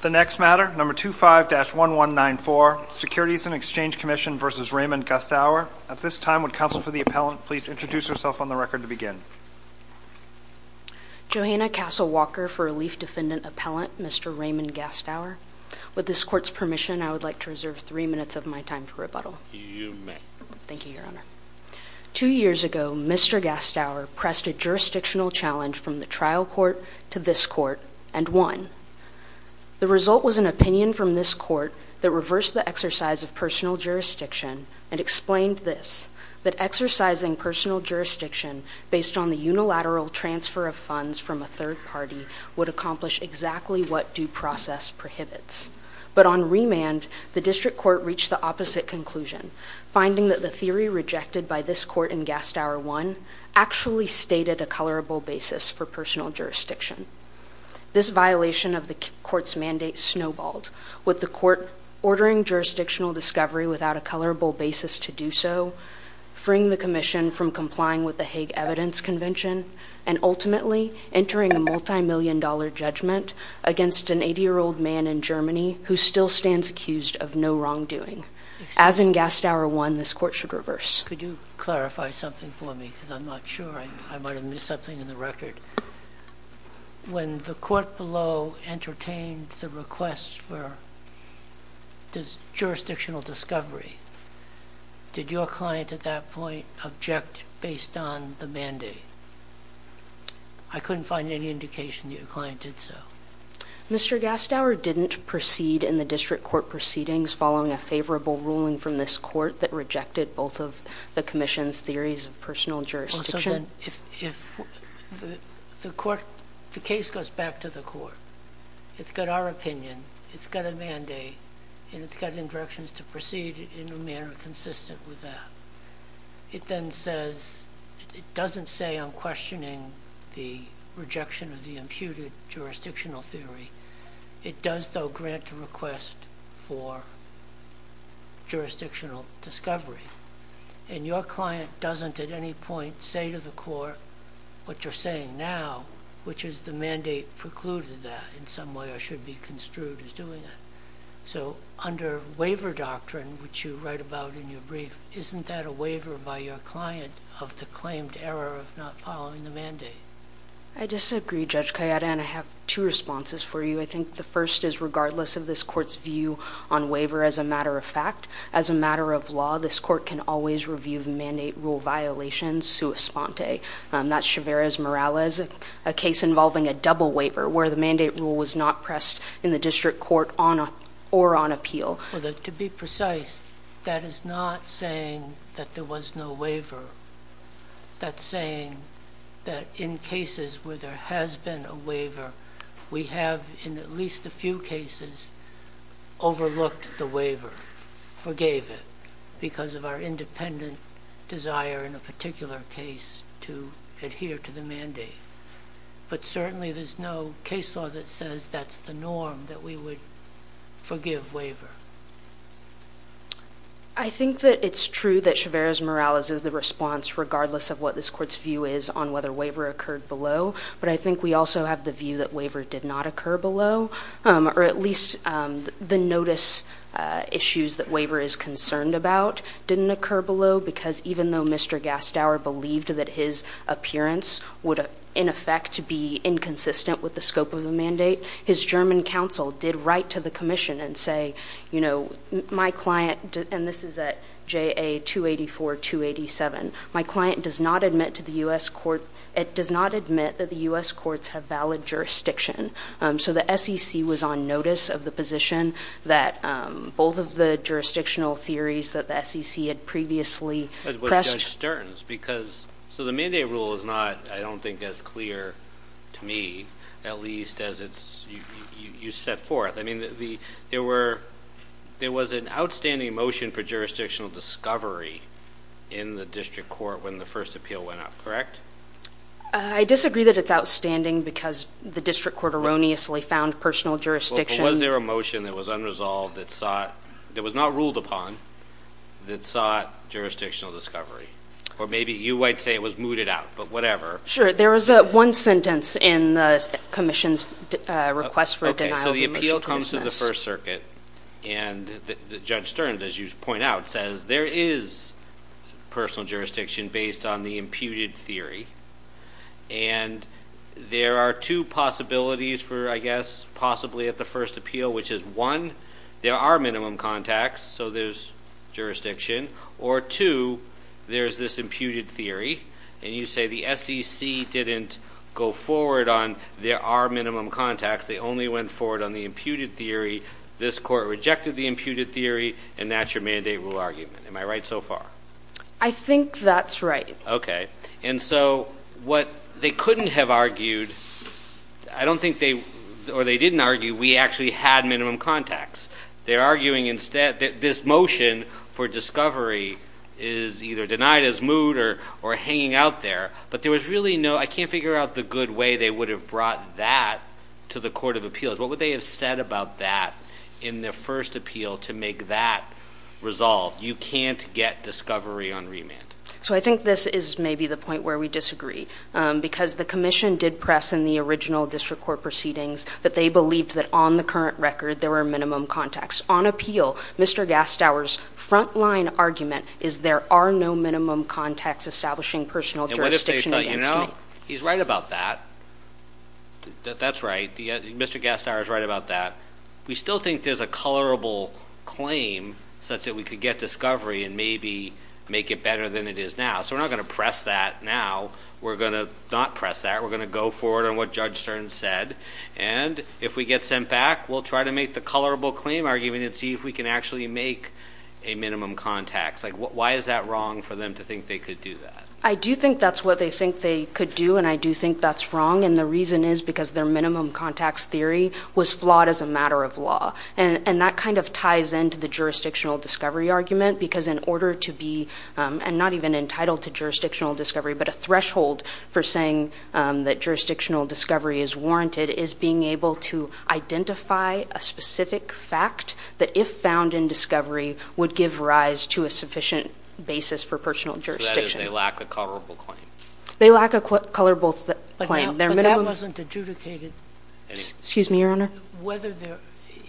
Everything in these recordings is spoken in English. The next matter, number 25-1194, Securities and Exchange Commission v. Raymond Gastauer. At this time, would counsel for the appellant please introduce herself on the record to Johanna Castle Walker for Relief Defendant Appellant, Mr. Raymond Gastauer. With this court's permission, I would like to reserve three minutes of my time for rebuttal. You may. Thank you, Your Honor. Two years ago, Mr. Gastauer pressed a jurisdictional challenge from the trial court to this court and won. The result was an opinion from this court that reversed the exercise of personal jurisdiction and explained this, that exercising personal jurisdiction based on the unilateral transfer of funds from a third party would accomplish exactly what due process prohibits. But on remand, the district court reached the opposite conclusion, finding that the theory rejected by this court in Gastauer 1 actually stated a colorable basis for personal jurisdiction. This violation of the court's mandate snowballed, with the court ordering jurisdictional discovery without a colorable basis to do so, freeing the commission from complying with the Hague Evidence Convention, and ultimately entering a multi-million dollar judgment against an 80-year-old man in Germany who still stands accused of no wrongdoing. As in Gastauer 1, this court should reverse. Could you clarify something for me, because I'm not sure, I might have missed something in the record. When the court below entertained the request for jurisdictional discovery, did your client at that point object based on the mandate? I couldn't find any indication that your client did so. Mr. Gastauer didn't proceed in the district court proceedings following a favorable ruling from this court that rejected both of the commission's theories of personal jurisdiction? Also, the case goes back to the court. It's got our opinion, it's got a mandate, and it's got directions to proceed in a manner consistent with that. It then says, it doesn't say I'm questioning the rejection of the imputed jurisdictional theory. It does, though, grant a request for jurisdictional discovery. Your client doesn't at any point say to the court what you're saying now, which is the mandate precluded that in some way or should be construed as doing that. Under waiver doctrine, which you write about in your brief, isn't that a waiver by your client of the claimed error of not following the mandate? I disagree, Judge Cayeta, and I have two responses for you. I think the first is, regardless of this court's view on waiver as a matter of fact, as a matter of law, this court can always review the mandate rule violations sua sponte. That's chiveres morales, a case involving a double waiver where the mandate rule was not pressed in the district court or on appeal. To be precise, that is not saying that there was no waiver. That's saying that in cases where there has been a waiver, we have in at least a few cases overlooked the waiver, forgave it because of our independent desire in a particular case to adhere to the mandate. But certainly there's no case law that says that's the norm, that we would forgive waiver. I think that it's true that chiveres morales is the response regardless of what this court's view is on whether waiver occurred below, but I think we also have the view that waiver did not occur below, or at least the notice issues that waiver is concerned about didn't occur below because even though Mr. Gastower believed that his appearance would in effect be inconsistent with the scope of the mandate, his German counsel did write to the commission and say, you know, my client, and this is at JA 284, 287, my client does not admit to the U.S. court, it does not admit that the U.S. courts have valid jurisdiction. So the SEC was on notice of the position that both of the jurisdictional theories that the SEC had previously pressed. But with Judge Stearns, because, so the mandate rule is not, I don't think, as clear to me, at least as it's, you set forth, I mean, there were, there was an outstanding motion for jurisdictional discovery in the district court when the first appeal went up, correct? I disagree that it's outstanding because the district court erroneously found personal jurisdiction. Was there a motion that was unresolved that sought, that was not ruled upon, that sought jurisdictional discovery? Or maybe you might say it was mooted out, but whatever. Sure. There was one sentence in the commission's request for a denial of remissiveness. So the appeal comes to the First Circuit, and Judge Stearns, as you point out, says there is personal jurisdiction based on the imputed theory, and there are two possibilities for, I guess, possibly at the first appeal, which is, one, there are minimum contacts, so there's jurisdiction, or two, there's this imputed theory, and you say the SEC didn't go forward on there are minimum contacts, they only went forward on the imputed theory, this court rejected the imputed theory, and that's your mandate rule argument. Am I right so far? I think that's right. Okay. And so what they couldn't have argued, I don't think they, or they didn't argue we actually had minimum contacts. They're arguing instead that this motion for discovery is either denied as moot or hanging out there, but there was really no, I can't figure out the good way they would have brought that to the Court of Appeals. What would they have said about that in their first appeal to make that resolved? You can't get discovery on remand. So I think this is maybe the point where we disagree, because the commission did press in the original district court proceedings that they believed that on the current record there were minimum contacts. On appeal, Mr. Gastower's frontline argument is there are no minimum contacts establishing personal jurisdiction against me. And what if they thought, you know, he's right about that. That's right. Mr. Gastower's right about that. We still think there's a colorable claim such that we could get discovery and maybe make it better than it is now. So we're not going to press that now. We're going to not press that. We're going to go forward on what Judge Stern said. And if we get sent back, we'll try to make the colorable claim argument and see if we can actually make a minimum contact. Why is that wrong for them to think they could do that? I do think that's what they think they could do, and I do think that's wrong. And the reason is because their minimum contacts theory was flawed as a matter of law. And that kind of ties into the jurisdictional discovery argument, because in order to be not even entitled to jurisdictional discovery, but a threshold for saying that jurisdictional discovery is warranted, is being able to identify a specific fact that if found in discovery would give rise to a sufficient basis for personal jurisdiction. So that is they lack a colorable claim. They lack a colorable claim. But that wasn't adjudicated. Excuse me, Your Honor.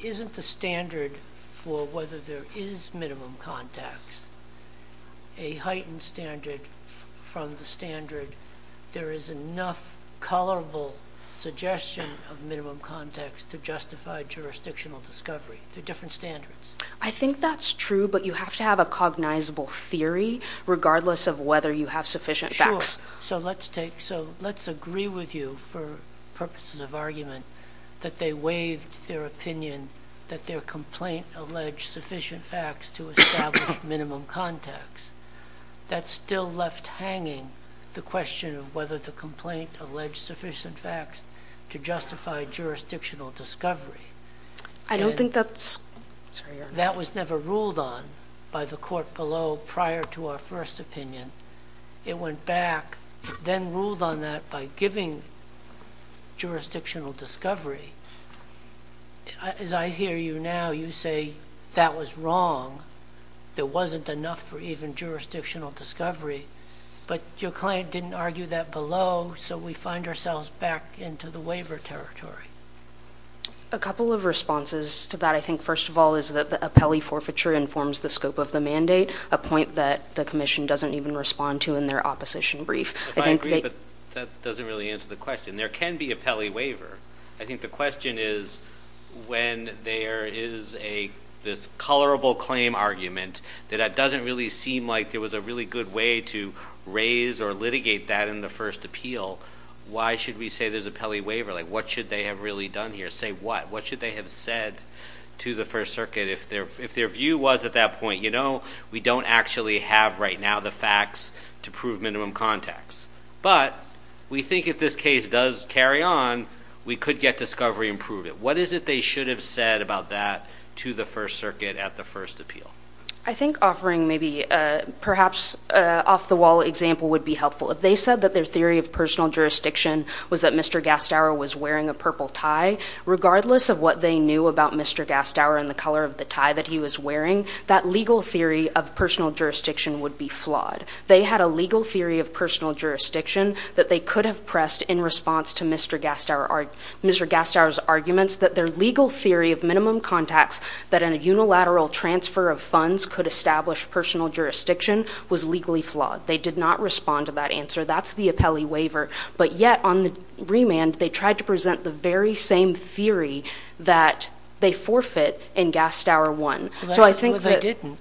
Isn't the standard for whether there is minimum contacts a heightened standard from the standard there is enough colorable suggestion of minimum contacts to justify jurisdictional discovery? They're different standards. I think that's true, but you have to have a cognizable theory regardless of whether you have sufficient facts. Sure. So let's agree with you for purposes of argument that they waived their opinion that their complaint alleged sufficient facts to establish minimum contacts. That still left hanging the question of whether the complaint alleged sufficient facts to justify jurisdictional discovery. I don't think that's – Sorry, Your Honor. That was never ruled on by the court below prior to our first opinion. It went back, then ruled on that by giving jurisdictional discovery. As I hear you now, you say that was wrong. There wasn't enough for even jurisdictional discovery. But your client didn't argue that below, so we find ourselves back into the waiver territory. A couple of responses to that, I think, first of all, is that the appellee forfeiture informs the scope of the mandate, a point that the commission doesn't even respond to in their opposition brief. If I agree, but that doesn't really answer the question. There can be a pelley waiver. I think the question is when there is a – this colorable claim argument that that doesn't really seem like there was a really good way to raise or litigate that in the first appeal, why should we say there's a pelley waiver? What should they have really done here? Say what? What should they have said to the First Circuit? If their view was at that point, you know, we don't actually have right now the facts to prove minimum contacts. But we think if this case does carry on, we could get discovery and prove it. What is it they should have said about that to the First Circuit at the first appeal? I think offering maybe perhaps an off-the-wall example would be helpful. If they said that their theory of personal jurisdiction was that Mr. Gastower was wearing a purple tie, regardless of what they knew about Mr. Gastower and the color of the tie that he was wearing, that legal theory of personal jurisdiction would be flawed. They had a legal theory of personal jurisdiction that they could have pressed in response to Mr. Gastower's arguments that their legal theory of minimum contacts that in a unilateral transfer of funds could establish personal jurisdiction was legally flawed. They did not respond to that answer. That's the pelley waiver. But yet, on the remand, they tried to present the very same theory that they forfeit in Gastower 1. That's what they didn't.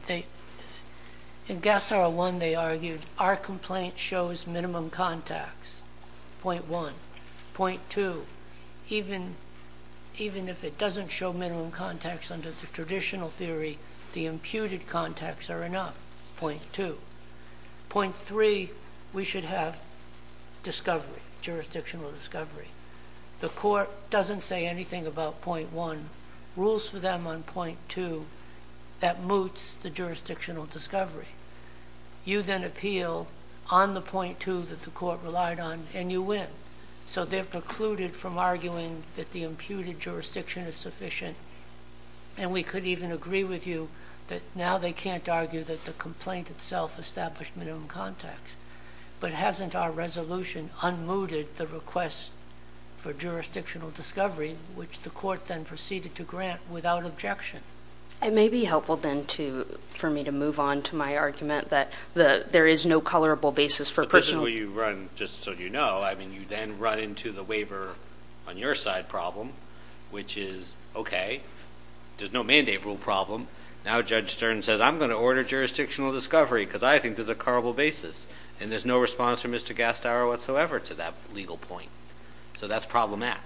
In Gastower 1, they argued our complaint shows minimum contacts, point one. Point two, even if it doesn't show minimum contacts under the traditional theory, the imputed contacts are enough, point two. Point three, we should have discovery, jurisdictional discovery. The court doesn't say anything about point one. Rules for them on point two, that moots the jurisdictional discovery. You then appeal on the point two that the court relied on, and you win. So they've precluded from arguing that the imputed jurisdiction is sufficient, and we could even agree with you that now they can't argue that the complaint itself established minimum contacts. But hasn't our resolution unmooted the request for jurisdictional discovery, which the court then proceeded to grant without objection? It may be helpful then for me to move on to my argument that there is no colorable basis for personal. The person where you run, just so you know, I mean, you then run into the waiver on your side problem, which is, okay, there's no mandate rule problem. Now Judge Stern says, I'm going to order jurisdictional discovery, because I think there's a colorable basis. And there's no response from Mr. Gastaro whatsoever to that legal point. So that's problematic.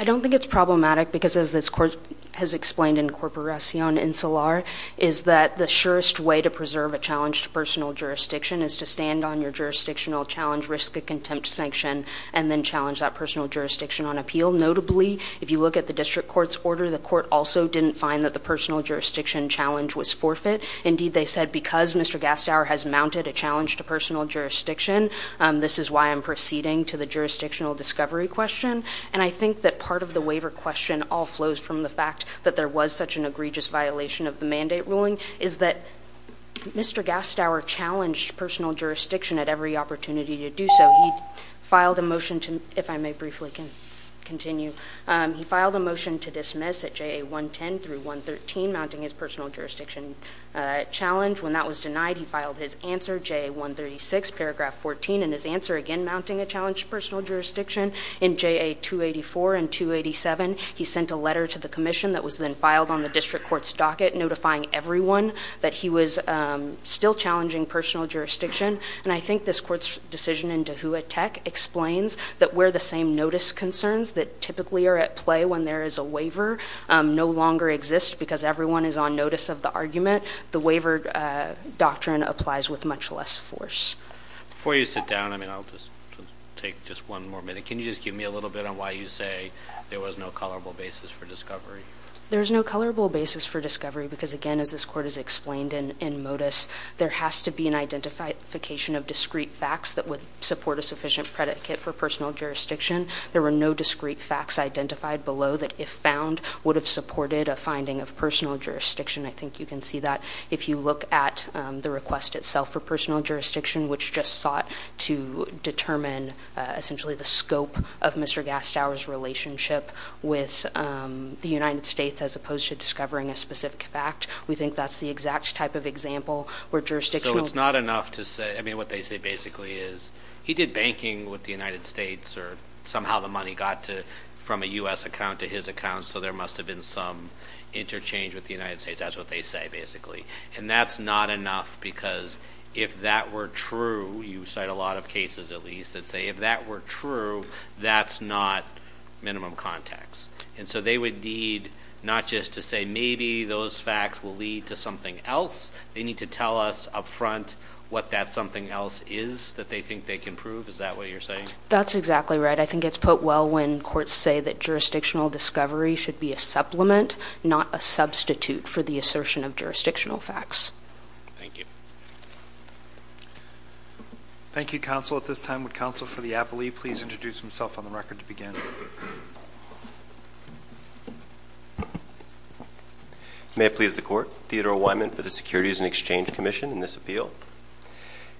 I don't think it's problematic, because as this court has explained in Corporacion Insular, is that the surest way to preserve a challenged personal jurisdiction is to stand on your jurisdictional challenge, risk of contempt sanction, and then challenge that personal jurisdiction on appeal. Notably, if you look at the district court's order, the court also didn't find that the personal jurisdiction challenge was forfeit. Indeed, they said, because Mr. Gastaro has mounted a challenge to personal jurisdiction, this is why I'm proceeding to the jurisdictional discovery question. And I think that part of the waiver question all flows from the fact that there was such an egregious violation of the mandate ruling, is that Mr. Gastaro challenged personal jurisdiction at every opportunity to do so. So he filed a motion to, if I may briefly continue, he filed a motion to dismiss at JA 110 through 113, mounting his personal jurisdiction challenge. When that was denied, he filed his answer, JA 136, paragraph 14, and his answer again mounting a challenge to personal jurisdiction in JA 284 and 287. He sent a letter to the commission that was then filed on the district court's docket notifying everyone that he was still challenging personal jurisdiction. And I think this court's decision in Dehua Tech explains that where the same notice concerns that typically are at play when there is a waiver no longer exist because everyone is on notice of the argument, the waiver doctrine applies with much less force. Before you sit down, I mean, I'll just take just one more minute. Can you just give me a little bit on why you say there was no colorable basis for discovery? There's no colorable basis for discovery because, again, as this court has explained in modus, there has to be an identification of discrete facts that would support a sufficient predicate for personal jurisdiction. There were no discrete facts identified below that, if found, would have supported a finding of personal jurisdiction. I think you can see that if you look at the request itself for personal jurisdiction, which just sought to determine essentially the scope of Mr. Gastow's relationship with the United States as opposed to discovering a specific fact. We think that's the exact type of example where jurisdictional- So it's not enough to say, I mean, what they say basically is, he did banking with the United States or somehow the money got from a US account to his account, so there must have been some interchange with the United States. That's what they say, basically. And that's not enough because if that were true, you cite a lot of cases at least that say, if that were true, that's not minimum context. And so they would need, not just to say, maybe those facts will lead to something else. They need to tell us up front what that something else is that they think they can prove. Is that what you're saying? That's exactly right. I think it's put well when courts say that jurisdictional discovery should be a supplement, not a substitute for the assertion of jurisdictional facts. Thank you. Thank you, counsel. At this time, would counsel for the appellee please introduce himself on the record to begin? May it please the court. Theodore Wyman for the Securities and Exchange Commission in this appeal.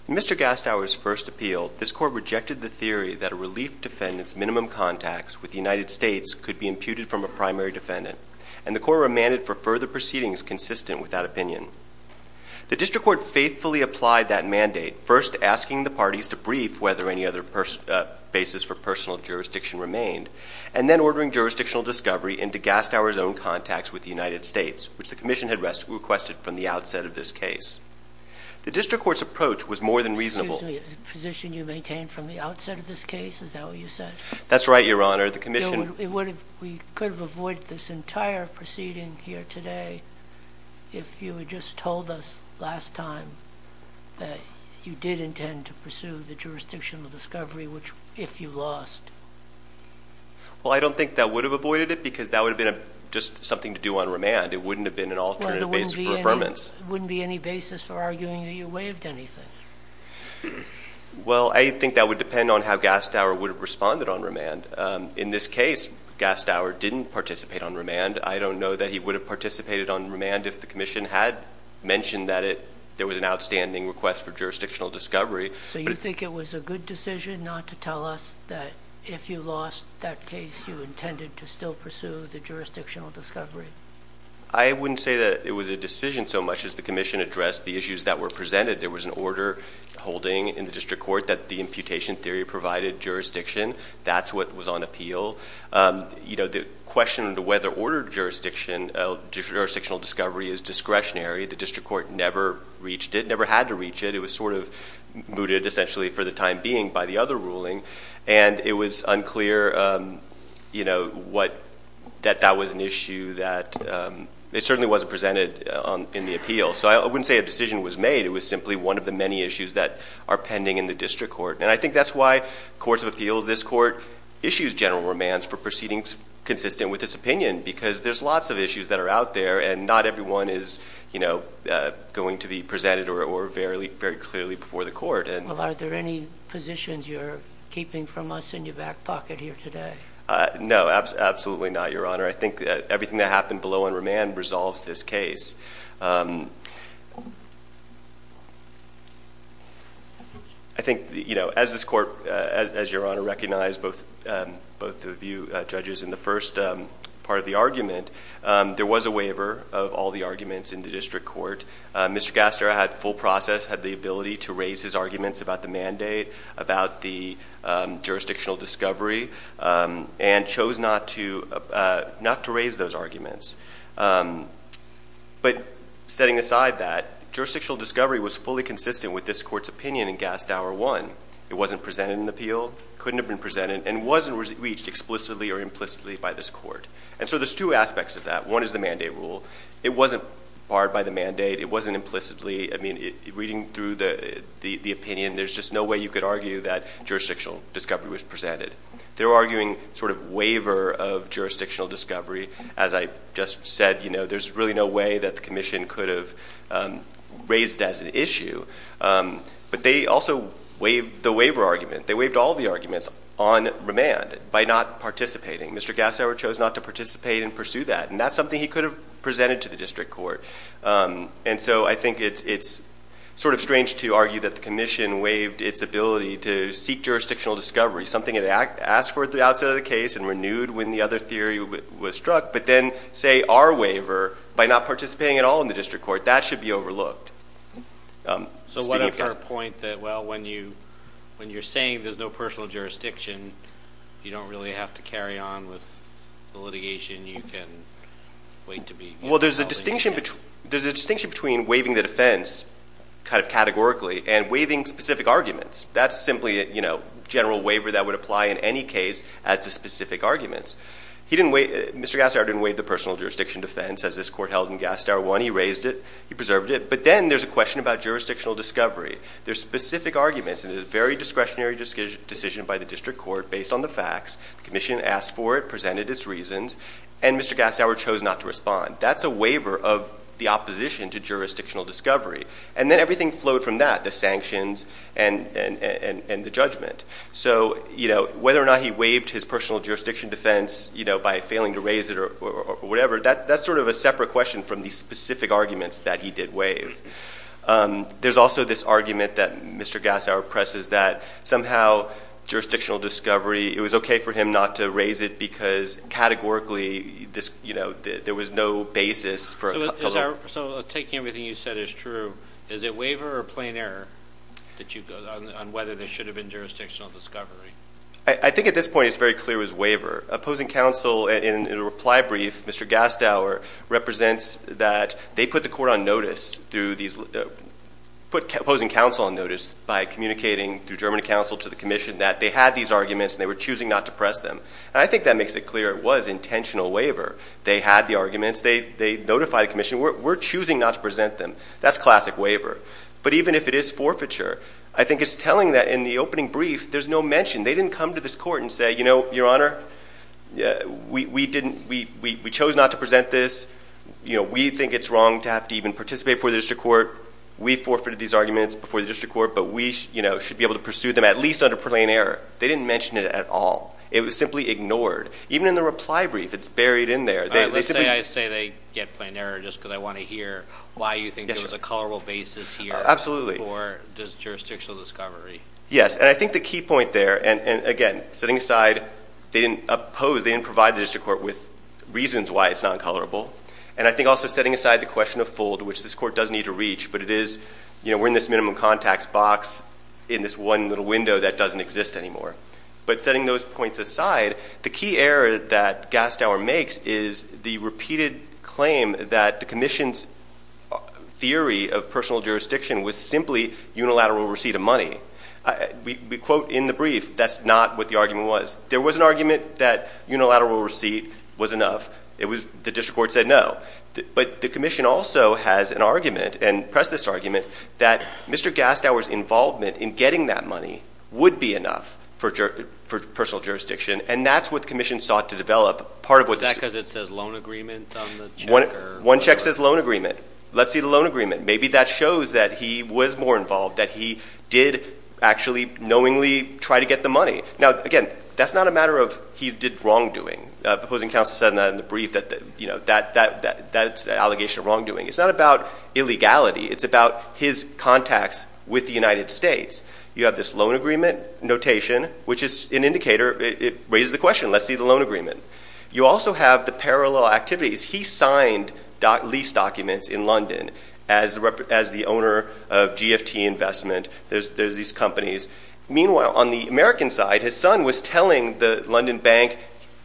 In Mr. Gastower's first appeal, this court rejected the theory that a relief defendant's minimum contacts with the United States could be imputed from a primary defendant. And the court remanded for further proceedings consistent with that opinion. The district court faithfully applied that mandate, first asking the parties to brief whether any other basis for personal jurisdiction remained, and then ordering jurisdictional discovery into Gastower's own contacts with the United States, which the commission had requested from the outset of this case. The district court's approach was more than reasonable. Excuse me, the position you maintained from the outset of this case, is that what you said? That's right, your honor. The commission- We could have avoided this entire proceeding here today if you had just told us last time that you did intend to pursue the jurisdictional discovery, which if you lost. Well, I don't think that would have avoided it, because that would have been just something to do on remand. It wouldn't have been an alternative basis for affirmance. It wouldn't be any basis for arguing that you waived anything. Well, I think that would depend on how Gastower would have responded on remand. In this case, Gastower didn't participate on remand. I don't know that he would have participated on remand if the commission had mentioned that there was an outstanding request for jurisdictional discovery. So you think it was a good decision not to tell us that if you lost that case, you intended to still pursue the jurisdictional discovery? I wouldn't say that it was a decision so much as the commission addressed the issues that were presented. There was an order holding in the district court that the imputation theory provided jurisdiction. That's what was on appeal. The question to whether order jurisdiction, jurisdictional discovery is discretionary. The district court never reached it, never had to reach it. It was sort of mooted essentially for the time being by the other ruling. And it was unclear that that was an issue that it certainly wasn't presented in the appeal. So I wouldn't say a decision was made. It was simply one of the many issues that are pending in the district court. And I think that's why courts of appeals, this court issues general remands for proceedings consistent with this opinion. Because there's lots of issues that are out there, and not everyone is going to be presented or very clearly before the court. Well, are there any positions you're keeping from us in your back pocket here today? No, absolutely not, your honor. I think that everything that happened below on remand resolves this case. I think as this court, as your honor, recognize both of you judges in the first part of the argument, there was a waiver of all the arguments in the district court. Mr. Gaster had full process, had the ability to raise his arguments about the mandate, about the jurisdictional discovery, and chose not to raise those arguments. But setting aside that, jurisdictional discovery was fully consistent with this court's opinion in Gast-Hour 1. It wasn't presented in the appeal, couldn't have been presented, and wasn't reached explicitly or implicitly by this court. And so there's two aspects of that. One is the mandate rule. It wasn't barred by the mandate. It wasn't implicitly, I mean, reading through the opinion, there's just no way you could argue that jurisdictional discovery was presented. They're arguing sort of waiver of jurisdictional discovery. As I just said, there's really no way that the commission could have raised as an issue. But they also waived the waiver argument. They waived all the arguments on remand by not participating. Mr. Gasower chose not to participate and pursue that. And that's something he could have presented to the district court. And so I think it's sort of strange to argue that the commission waived its ability to seek jurisdictional discovery, something it asked for at the outset of the case and renewed when the other theory was struck. But then, say, our waiver, by not participating at all in the district court, that should be overlooked. So what of her point that, well, when you're saying there's no personal jurisdiction, you don't really have to carry on with the litigation, you can wait to be- Well, there's a distinction between waiving the defense kind of categorically and waiving specific arguments. That's simply a general waiver that would apply in any case as to specific arguments. Mr. Gasower didn't waive the personal jurisdiction defense as this court held in Gasower 1. He raised it, he preserved it. But then there's a question about jurisdictional discovery. There's specific arguments and it's a very discretionary decision by the district court based on the facts. The commission asked for it, presented its reasons, and Mr. Gasower chose not to respond. That's a waiver of the opposition to jurisdictional discovery. And then everything flowed from that, the sanctions and the judgment. So whether or not he waived his personal jurisdiction defense by failing to raise it or whatever, that's sort of a separate question from the specific arguments that he did waive. There's also this argument that Mr. Gasower presses that somehow jurisdictional discovery, it was okay for him not to raise it because categorically there was no basis for- So taking everything you said as true, is it waiver or plain error on whether there should have been jurisdictional discovery? I think at this point it's very clear it was waiver. Opposing counsel in a reply brief, Mr. Gasower represents that they put the court on notice through these, put opposing counsel on notice by communicating through German counsel to the commission that they had these arguments and they were choosing not to press them. And I think that makes it clear it was intentional waiver. They had the arguments, they notified the commission, we're choosing not to present them. That's classic waiver. But even if it is forfeiture, I think it's telling that in the opening brief, there's no mention. They didn't come to this court and say, your honor, we chose not to present this. We think it's wrong to have to even participate before the district court. We forfeited these arguments before the district court, but we should be able to pursue them at least under plain error. They didn't mention it at all. It was simply ignored. Even in the reply brief, it's buried in there. They simply- I say they get plain error just because I want to hear why you think there was a colorable basis here. Absolutely. For jurisdictional discovery. Yes, and I think the key point there, and again, setting aside, they didn't oppose, they didn't provide the district court with reasons why it's not colorable. And I think also setting aside the question of fold, which this court does need to reach, but it is, we're in this minimum contacts box in this one little window that doesn't exist anymore. But setting those points aside, the key error that Gastower makes is the repeated claim that the commission's theory of personal jurisdiction was simply unilateral receipt of money. We quote in the brief, that's not what the argument was. There was an argument that unilateral receipt was enough. It was, the district court said no. But the commission also has an argument, and pressed this argument, that Mr. Gastower's involvement in getting that money would be enough for personal jurisdiction. And that's what the commission sought to develop. Part of what- Is that because it says loan agreement on the check, or? One check says loan agreement. Let's see the loan agreement. Maybe that shows that he was more involved, that he did actually knowingly try to get the money. Now, again, that's not a matter of he did wrongdoing. Opposing counsel said that in the brief, that's an allegation of wrongdoing. It's not about illegality. It's about his contacts with the United States. You have this loan agreement notation, which is an indicator, it raises the question, let's see the loan agreement. You also have the parallel activities. He signed lease documents in London as the owner of GFT Investment. There's these companies. Meanwhile, on the American side, his son was telling the London bank,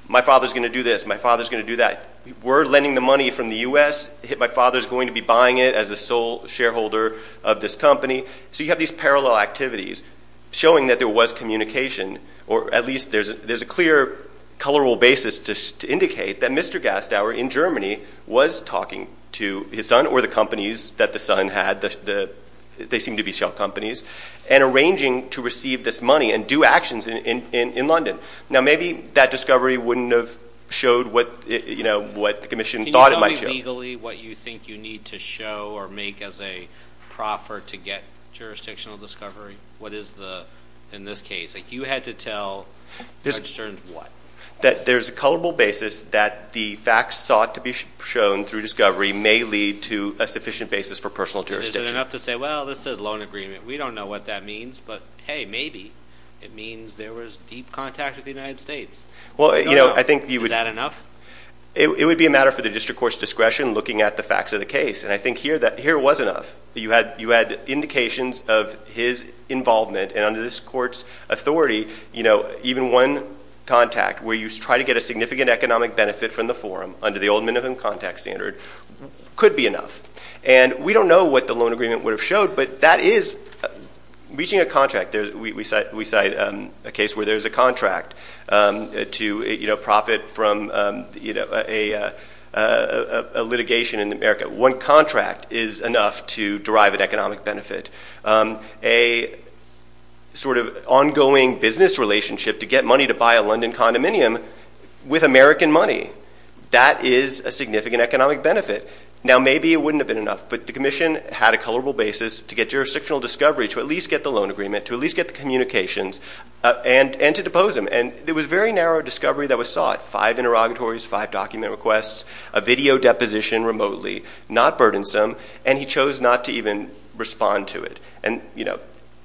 my father's going to do this, my father's going to do that. We're lending the money from the US, my father's going to be buying it as the sole shareholder of this company. So you have these parallel activities showing that there was communication, or at least there's a clear, colorable basis to indicate that Mr. Gastauer in Germany was talking to his son or the companies that the son had. They seem to be shell companies. And arranging to receive this money and do actions in London. Now maybe that discovery wouldn't have showed what the commission thought it might show. Can you tell me legally what you think you need to show or make as a proffer to get jurisdictional discovery? What is the, in this case, you had to tell Judge Stern what? That there's a colorable basis that the facts sought to be shown through discovery may lead to a sufficient basis for personal jurisdiction. Is it enough to say, well, this is a loan agreement. We don't know what that means. But hey, maybe it means there was deep contact with the United States. Is that enough? It would be a matter for the district court's discretion looking at the facts of the case. And I think here was enough. You had indications of his involvement and under this court's authority, even one contact where you try to get a significant economic benefit from the forum under the old minimum contact standard could be enough. And we don't know what the loan agreement would have showed, but that is, reaching a contract, we cite a case where there's a contract to profit from a litigation in America. One contract is enough to derive an economic benefit. A sort of ongoing business relationship to get money to buy a London condominium with American money. That is a significant economic benefit. Now maybe it wouldn't have been enough, but the commission had a colorable basis to get jurisdictional discovery, to at least get the loan agreement, to at least get the communications, and to depose him. And there was very narrow discovery that was sought. Five interrogatories, five document requests, a video deposition remotely, not burdensome. And he chose not to even respond to it. And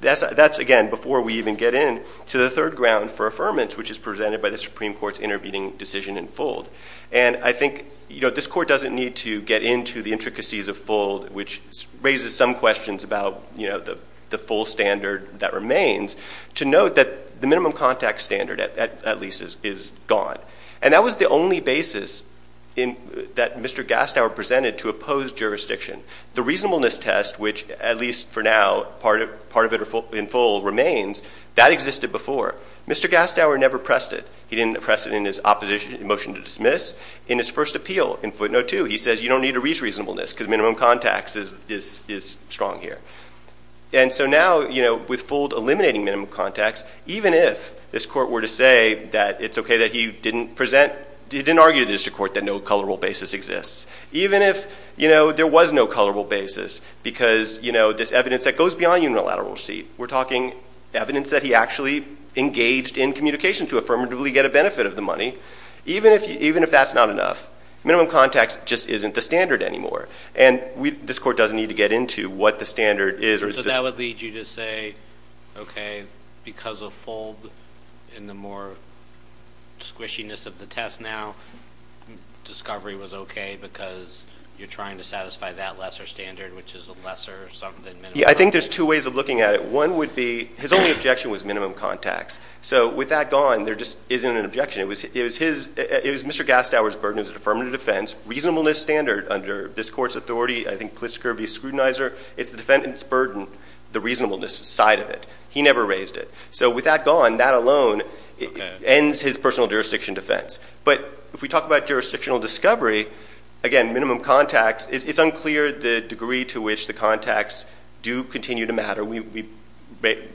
that's, again, before we even get in to the third ground for affirmance, which is presented by the Supreme Court's intervening decision in full. And I think this court doesn't need to get into the intricacies of full, which raises some questions about the full standard that remains, to note that the minimum contact standard, at least, is gone. And that was the only basis that Mr. Gastower presented to oppose jurisdiction. The reasonableness test, which, at least for now, part of it in full remains, that existed before. Mr. Gastower never pressed it. He didn't press it in his opposition motion to dismiss. In his first appeal, in footnote two, he says, you don't need to reach reasonableness, because minimum contacts is strong here. And so now, with full eliminating minimum contacts, even if this court were to say that it's okay that he didn't present, he didn't argue to the district court that no colorable basis exists. Even if there was no colorable basis, because this evidence that goes beyond unilateral receipt. We're talking evidence that he actually engaged in communication to affirmatively get a benefit of the money. Even if that's not enough, minimum contacts just isn't the standard anymore. And this court doesn't need to get into what the standard is or is this- So that would lead you to say, okay, because of full and the more squishiness of the test now, discovery was okay, because you're trying to satisfy that lesser standard, which is a lesser sum than minimum. Yeah, I think there's two ways of looking at it. One would be, his only objection was minimum contacts. So with that gone, there just isn't an objection. It was Mr. Gastower's burden as an affirmative defense. Reasonableness standard under this court's authority, I think, police scurvy scrutinizer. It's the defendant's burden, the reasonableness side of it. He never raised it. So with that gone, that alone ends his personal jurisdiction defense. But if we talk about jurisdictional discovery, again, minimum contacts, it's unclear the degree to which the contacts do continue to matter. We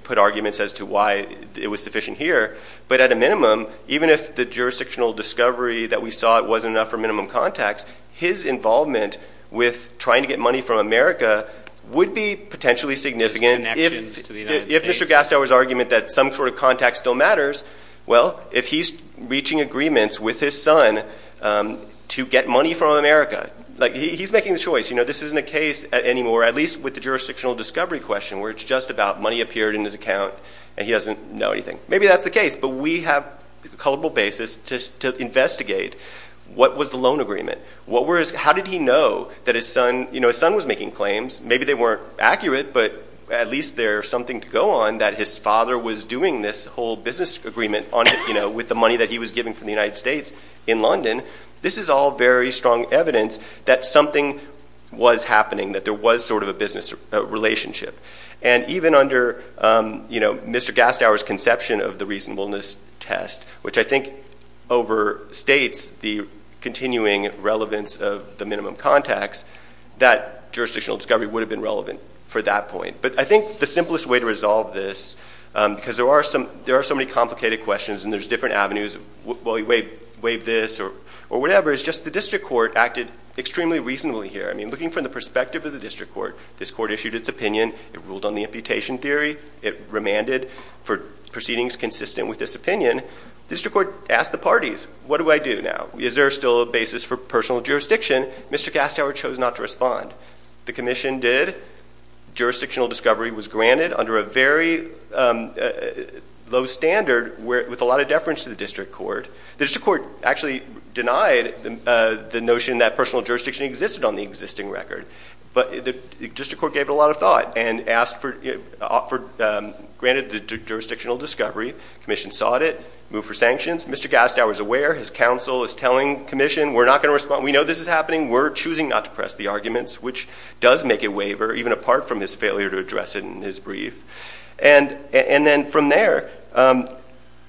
put arguments as to why it was sufficient here. But at a minimum, even if the jurisdictional discovery that we saw it wasn't enough for minimum contacts, his involvement with trying to get money from America would be potentially significant if Mr. Gastower's argument that some sort of contact still matters. Well, if he's reaching agreements with his son to get money from America. He's making the choice. This isn't a case anymore, at least with the jurisdictional discovery question, where it's just about money appeared in his account and he doesn't know anything. Maybe that's the case, but we have a culpable basis to investigate. What was the loan agreement? How did he know that his son was making claims? Maybe they weren't accurate, but at least there's something to go on that his father was doing this whole business agreement with the money that he was giving from the United States in London. This is all very strong evidence that something was happening, that there was sort of a business relationship. And even under Mr. Gastower's conception of the reasonableness test, which I think overstates the continuing relevance of the minimum contacts, that jurisdictional discovery would have been relevant for that point. But I think the simplest way to resolve this, because there are so many complicated questions and there's different avenues. Wave this or whatever, it's just the district court acted extremely reasonably here. I mean, looking from the perspective of the district court, this court issued its opinion. It ruled on the imputation theory. It remanded for proceedings consistent with this opinion. District court asked the parties, what do I do now? Is there still a basis for personal jurisdiction? Mr. Gastower chose not to respond. The commission did. Jurisdictional discovery was granted under a very low standard, with a lot of deference to the district court. The district court actually denied the notion that personal jurisdiction existed on the existing record. But the district court gave it a lot of thought and granted the jurisdictional discovery. Commission sought it, moved for sanctions. Mr. Gastower's aware, his counsel is telling commission, we're not going to respond. We know this is happening. We're choosing not to press the arguments, which does make it waiver, even apart from his failure to address it in his brief. And then from there,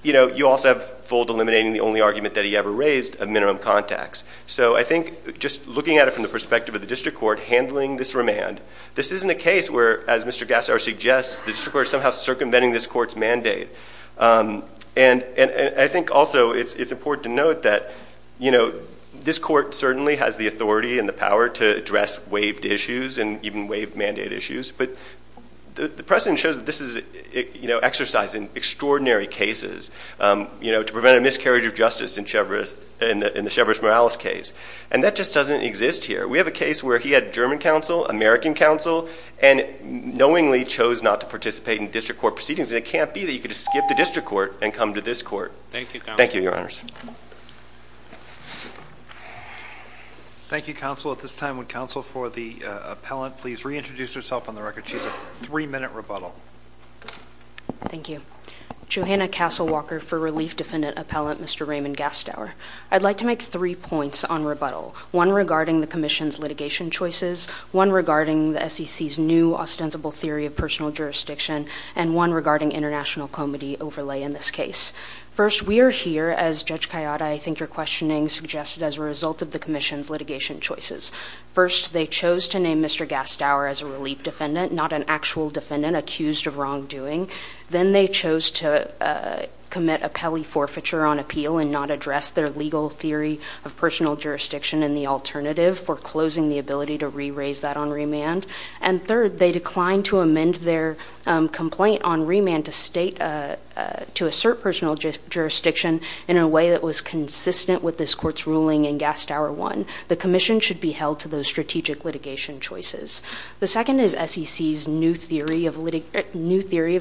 you also have Fould eliminating the only argument that he ever raised of minimum contacts. So I think just looking at it from the perspective of the district court handling this remand, this isn't a case where, as Mr. Gastower suggests, the district court is somehow circumventing this court's mandate. And I think also it's important to note that this court certainly has the authority and the power to address waived issues and even waived mandate issues. But the precedent shows that this is exercised in extraordinary cases to prevent a miscarriage of justice in the Chevris Morales case. And that just doesn't exist here. We have a case where he had German counsel, American counsel, and knowingly chose not to participate in district court proceedings. And it can't be that you could just skip the district court and come to this court. Thank you, your honors. Thank you, counsel. At this time, would counsel for the appellant please reintroduce herself on the record. She has a three minute rebuttal. Thank you. Johanna Castle Walker for relief defendant appellant, Mr. Raymond Gastower. I'd like to make three points on rebuttal. One regarding the commission's litigation choices. One regarding the SEC's new ostensible theory of personal jurisdiction. And one regarding international comedy overlay in this case. First, we are here, as Judge Coyotta, I think you're questioning, suggested as a result of the commission's litigation choices. First, they chose to name Mr. Gastower as a relief defendant, not an actual defendant accused of wrongdoing. Then they chose to commit a pelly forfeiture on appeal and not address their legal theory of personal jurisdiction in the alternative for closing the ability to re-raise that on remand. And third, they declined to amend their complaint on remand to state, to assert personal jurisdiction in a way that was consistent with this court's ruling in Gastower one. The commission should be held to those strategic litigation choices. The second is SEC's new theory of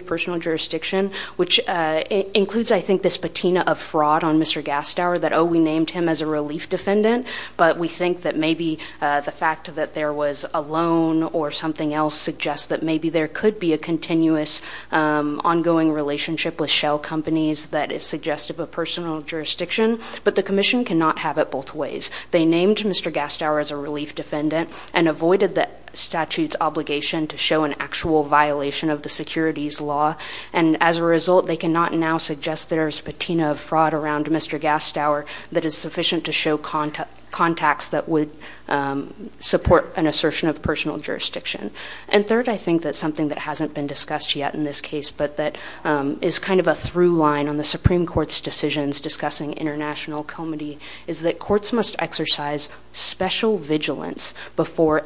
personal jurisdiction, which includes, I think, this patina of fraud on Mr. Gastower that, we named him as a relief defendant. But we think that maybe the fact that there was a loan or something else suggests that maybe there could be a continuous ongoing relationship with shell companies that is suggestive of personal jurisdiction. But the commission cannot have it both ways. They named Mr. Gastower as a relief defendant and avoided the statute's obligation to show an actual violation of the securities law. And as a result, they cannot now suggest there's patina of fraud around Mr. Gastower that is sufficient to show contacts that would support an assertion of personal jurisdiction. And third, I think that's something that hasn't been discussed yet in this case, but that is kind of a through line on the Supreme Court's decisions discussing international comity, is that courts must exercise special vigilance before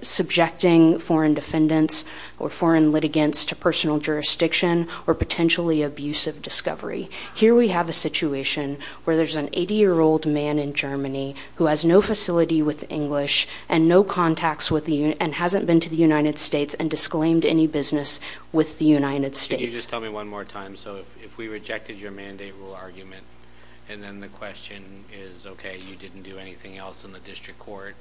subjecting foreign defendants or foreign litigants to personal jurisdiction or potentially abusive discovery. Here we have a situation where there's an 80 year old man in Germany who has no facility with English and no contacts with the, and hasn't been to the United States and disclaimed any business with the United States. Can you just tell me one more time, so if we rejected your mandate rule argument, and then the question is, okay, you didn't do anything else in the district court.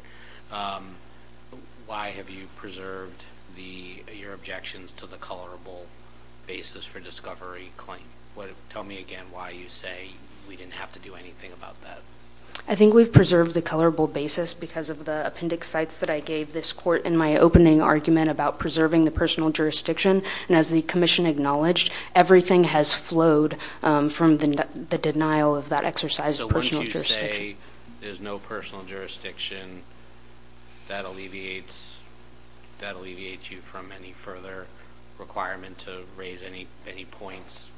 Why have you preserved your objections to the colorable basis for discovery claim? Tell me again why you say we didn't have to do anything about that. I think we've preserved the colorable basis because of the appendix sites that I gave this court in my opening argument about preserving the personal jurisdiction. And as the commission acknowledged, everything has flowed from the denial of that exercise of personal jurisdiction. So once you say there's no personal jurisdiction, that alleviates you from any further requirement to raise any points.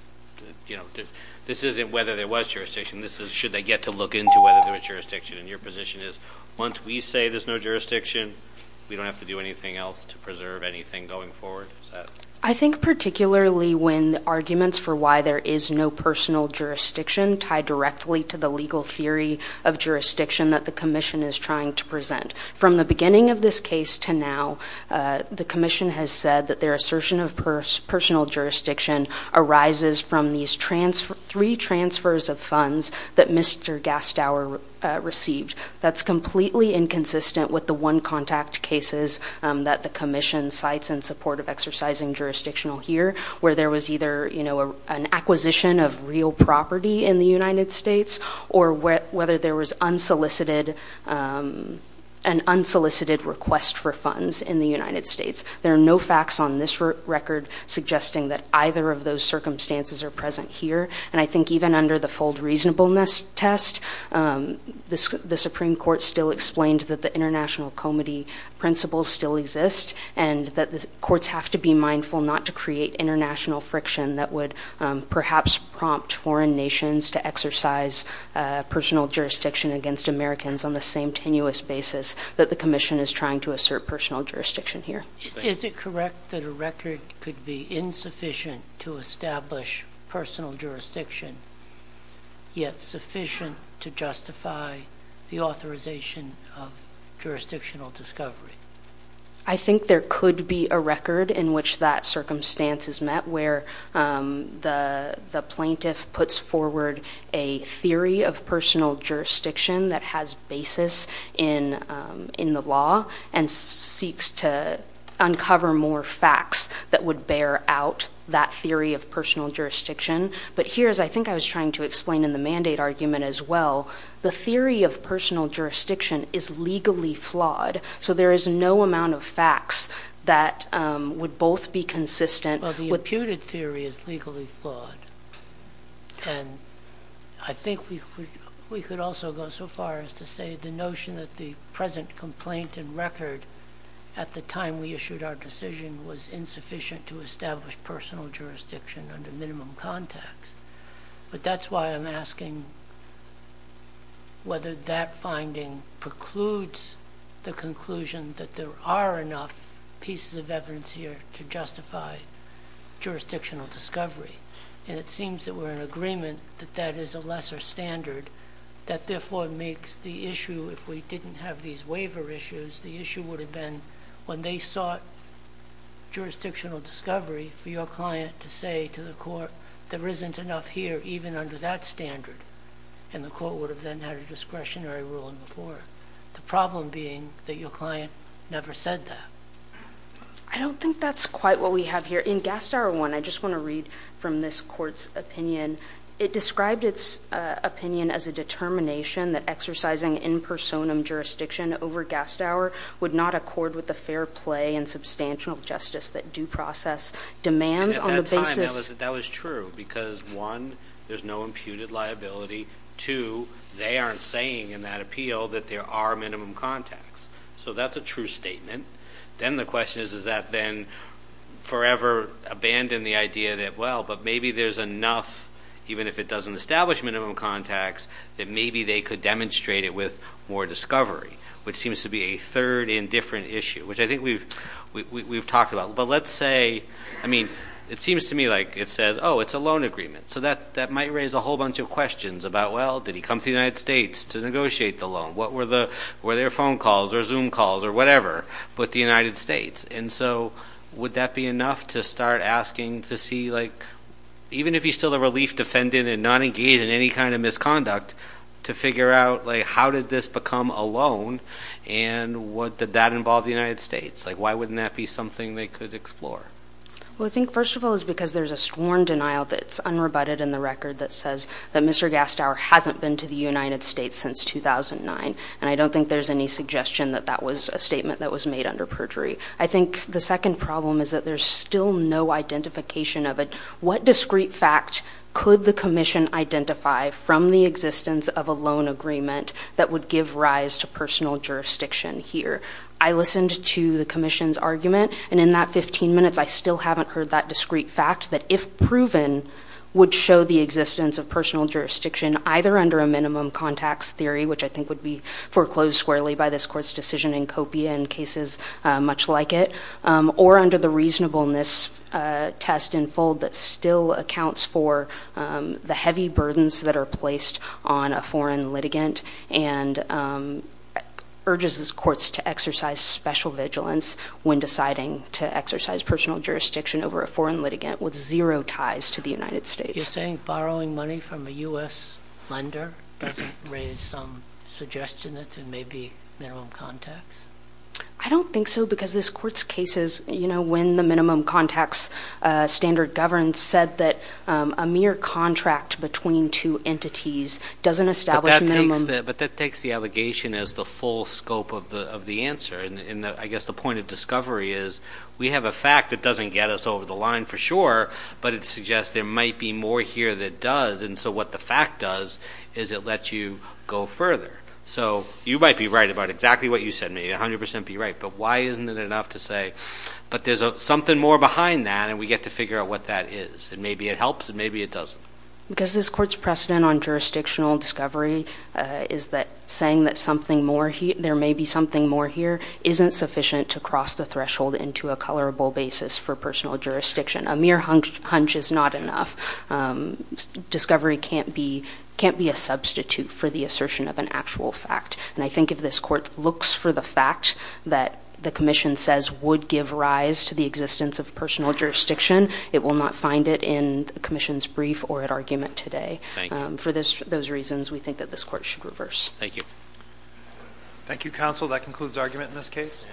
This isn't whether there was jurisdiction, this is should they get to look into whether there was jurisdiction. And your position is, once we say there's no jurisdiction, we don't have to do anything else to preserve anything going forward, is that? I think particularly when arguments for why there is no personal jurisdiction tied directly to the legal theory of jurisdiction that the commission is trying to present. From the beginning of this case to now, the commission has said that their assertion of personal jurisdiction arises from these three transfers of funds that Mr. Gastower received. That's completely inconsistent with the one contact cases that the commission cites in support of exercising jurisdictional here. Where there was either an acquisition of real property in the United States or whether there was an unsolicited request for funds in the United States. There are no facts on this record suggesting that either of those circumstances are present here. And I think even under the fold reasonableness test, the Supreme Court still explained that the international comity principles still exist. And that the courts have to be mindful not to create international friction that would perhaps prompt foreign nations to exercise personal jurisdiction against Americans on the same tenuous basis that the commission is trying to assert personal jurisdiction here. Is it correct that a record could be insufficient to establish personal jurisdiction, yet sufficient to justify the authorization of jurisdictional discovery? I think there could be a record in which that circumstance is met where the plaintiff puts forward a theory of personal jurisdiction that has basis in the law and seeks to uncover more facts that would bear out that theory of personal jurisdiction. But here, as I think I was trying to explain in the mandate argument as well, the theory of personal jurisdiction is legally flawed. So there is no amount of facts that would both be consistent with- Well, the imputed theory is legally flawed. And I think we could also go so far as to say the notion that the present complaint and record at the time we issued our decision was insufficient to establish personal jurisdiction under minimum context. But that's why I'm asking whether that finding precludes the conclusion that there are enough pieces of evidence here to justify jurisdictional discovery. And it seems that we're in agreement that that is a lesser standard. That therefore makes the issue, if we didn't have these waiver issues, the issue would have been when they sought jurisdictional discovery for your client to say to the court, there isn't enough here, even under that standard. And the court would have then had a discretionary ruling before. The problem being that your client never said that. I don't think that's quite what we have here. In Gastower 1, I just want to read from this court's opinion. It described its opinion as a determination that exercising in personam jurisdiction over Gastower would not accord with the fair play and substantial justice that due process demands on the basis- And at that time, that was true, because one, there's no imputed liability. Two, they aren't saying in that appeal that there are minimum contacts. So that's a true statement. Then the question is, is that then forever abandon the idea that, well, but maybe there's enough, even if it doesn't establish minimum contacts, that maybe they could demonstrate it with more discovery. Which seems to be a third indifferent issue, which I think we've talked about. But let's say, I mean, it seems to me like it says, it's a loan agreement. So that might raise a whole bunch of questions about, well, did he come to the United States to negotiate the loan? Were there phone calls or Zoom calls or whatever with the United States? And so, would that be enough to start asking to see like, even if he's still a relief defendant and not engaged in any kind of misconduct, to figure out how did this become a loan and did that involve the United States? Why wouldn't that be something they could explore? Well, I think, first of all, is because there's a sworn denial that's unrebutted in the record that says that Mr. Gastow hasn't been to the United States since 2009, and I don't think there's any suggestion that that was a statement that was made under perjury. I think the second problem is that there's still no identification of it. What discrete fact could the commission identify from the existence of a loan agreement that would give rise to personal jurisdiction here? I listened to the commission's argument, and in that 15 minutes, I still haven't heard that discrete fact that if proven, would show the existence of personal jurisdiction either under a minimum contacts theory, which I think would be foreclosed squarely by this court's decision in copia in cases much like it, or under the reasonableness test in full that still accounts for the heavy burdens that are placed on a foreign litigant and urges these courts to exercise special vigilance when deciding to exercise personal jurisdiction over a foreign litigant with zero ties to the United States. You're saying borrowing money from a US lender doesn't raise some suggestion that there may be minimum contacts? I don't think so, because this court's cases, when the minimum contacts standard governs, said that a mere contract between two entities doesn't establish a minimum- But that takes the allegation as the full scope of the answer. And I guess the point of discovery is, we have a fact that doesn't get us over the line for sure. But it suggests there might be more here that does, and so what the fact does is it lets you go further. So you might be right about exactly what you said, maybe 100% be right, but why isn't it enough to say, but there's something more behind that and we get to figure out what that is, and maybe it helps and maybe it doesn't. Because this court's precedent on jurisdictional discovery is that saying that there may be something more here isn't sufficient to cross the threshold into a colorable basis for personal jurisdiction. A mere hunch is not enough. Discovery can't be a substitute for the assertion of an actual fact. And I think if this court looks for the fact that the commission says would give rise to the existence of personal jurisdiction, it will not find it in the commission's brief or at argument today. For those reasons, we think that this court should reverse. Thank you. Thank you, counsel. That concludes argument in this case.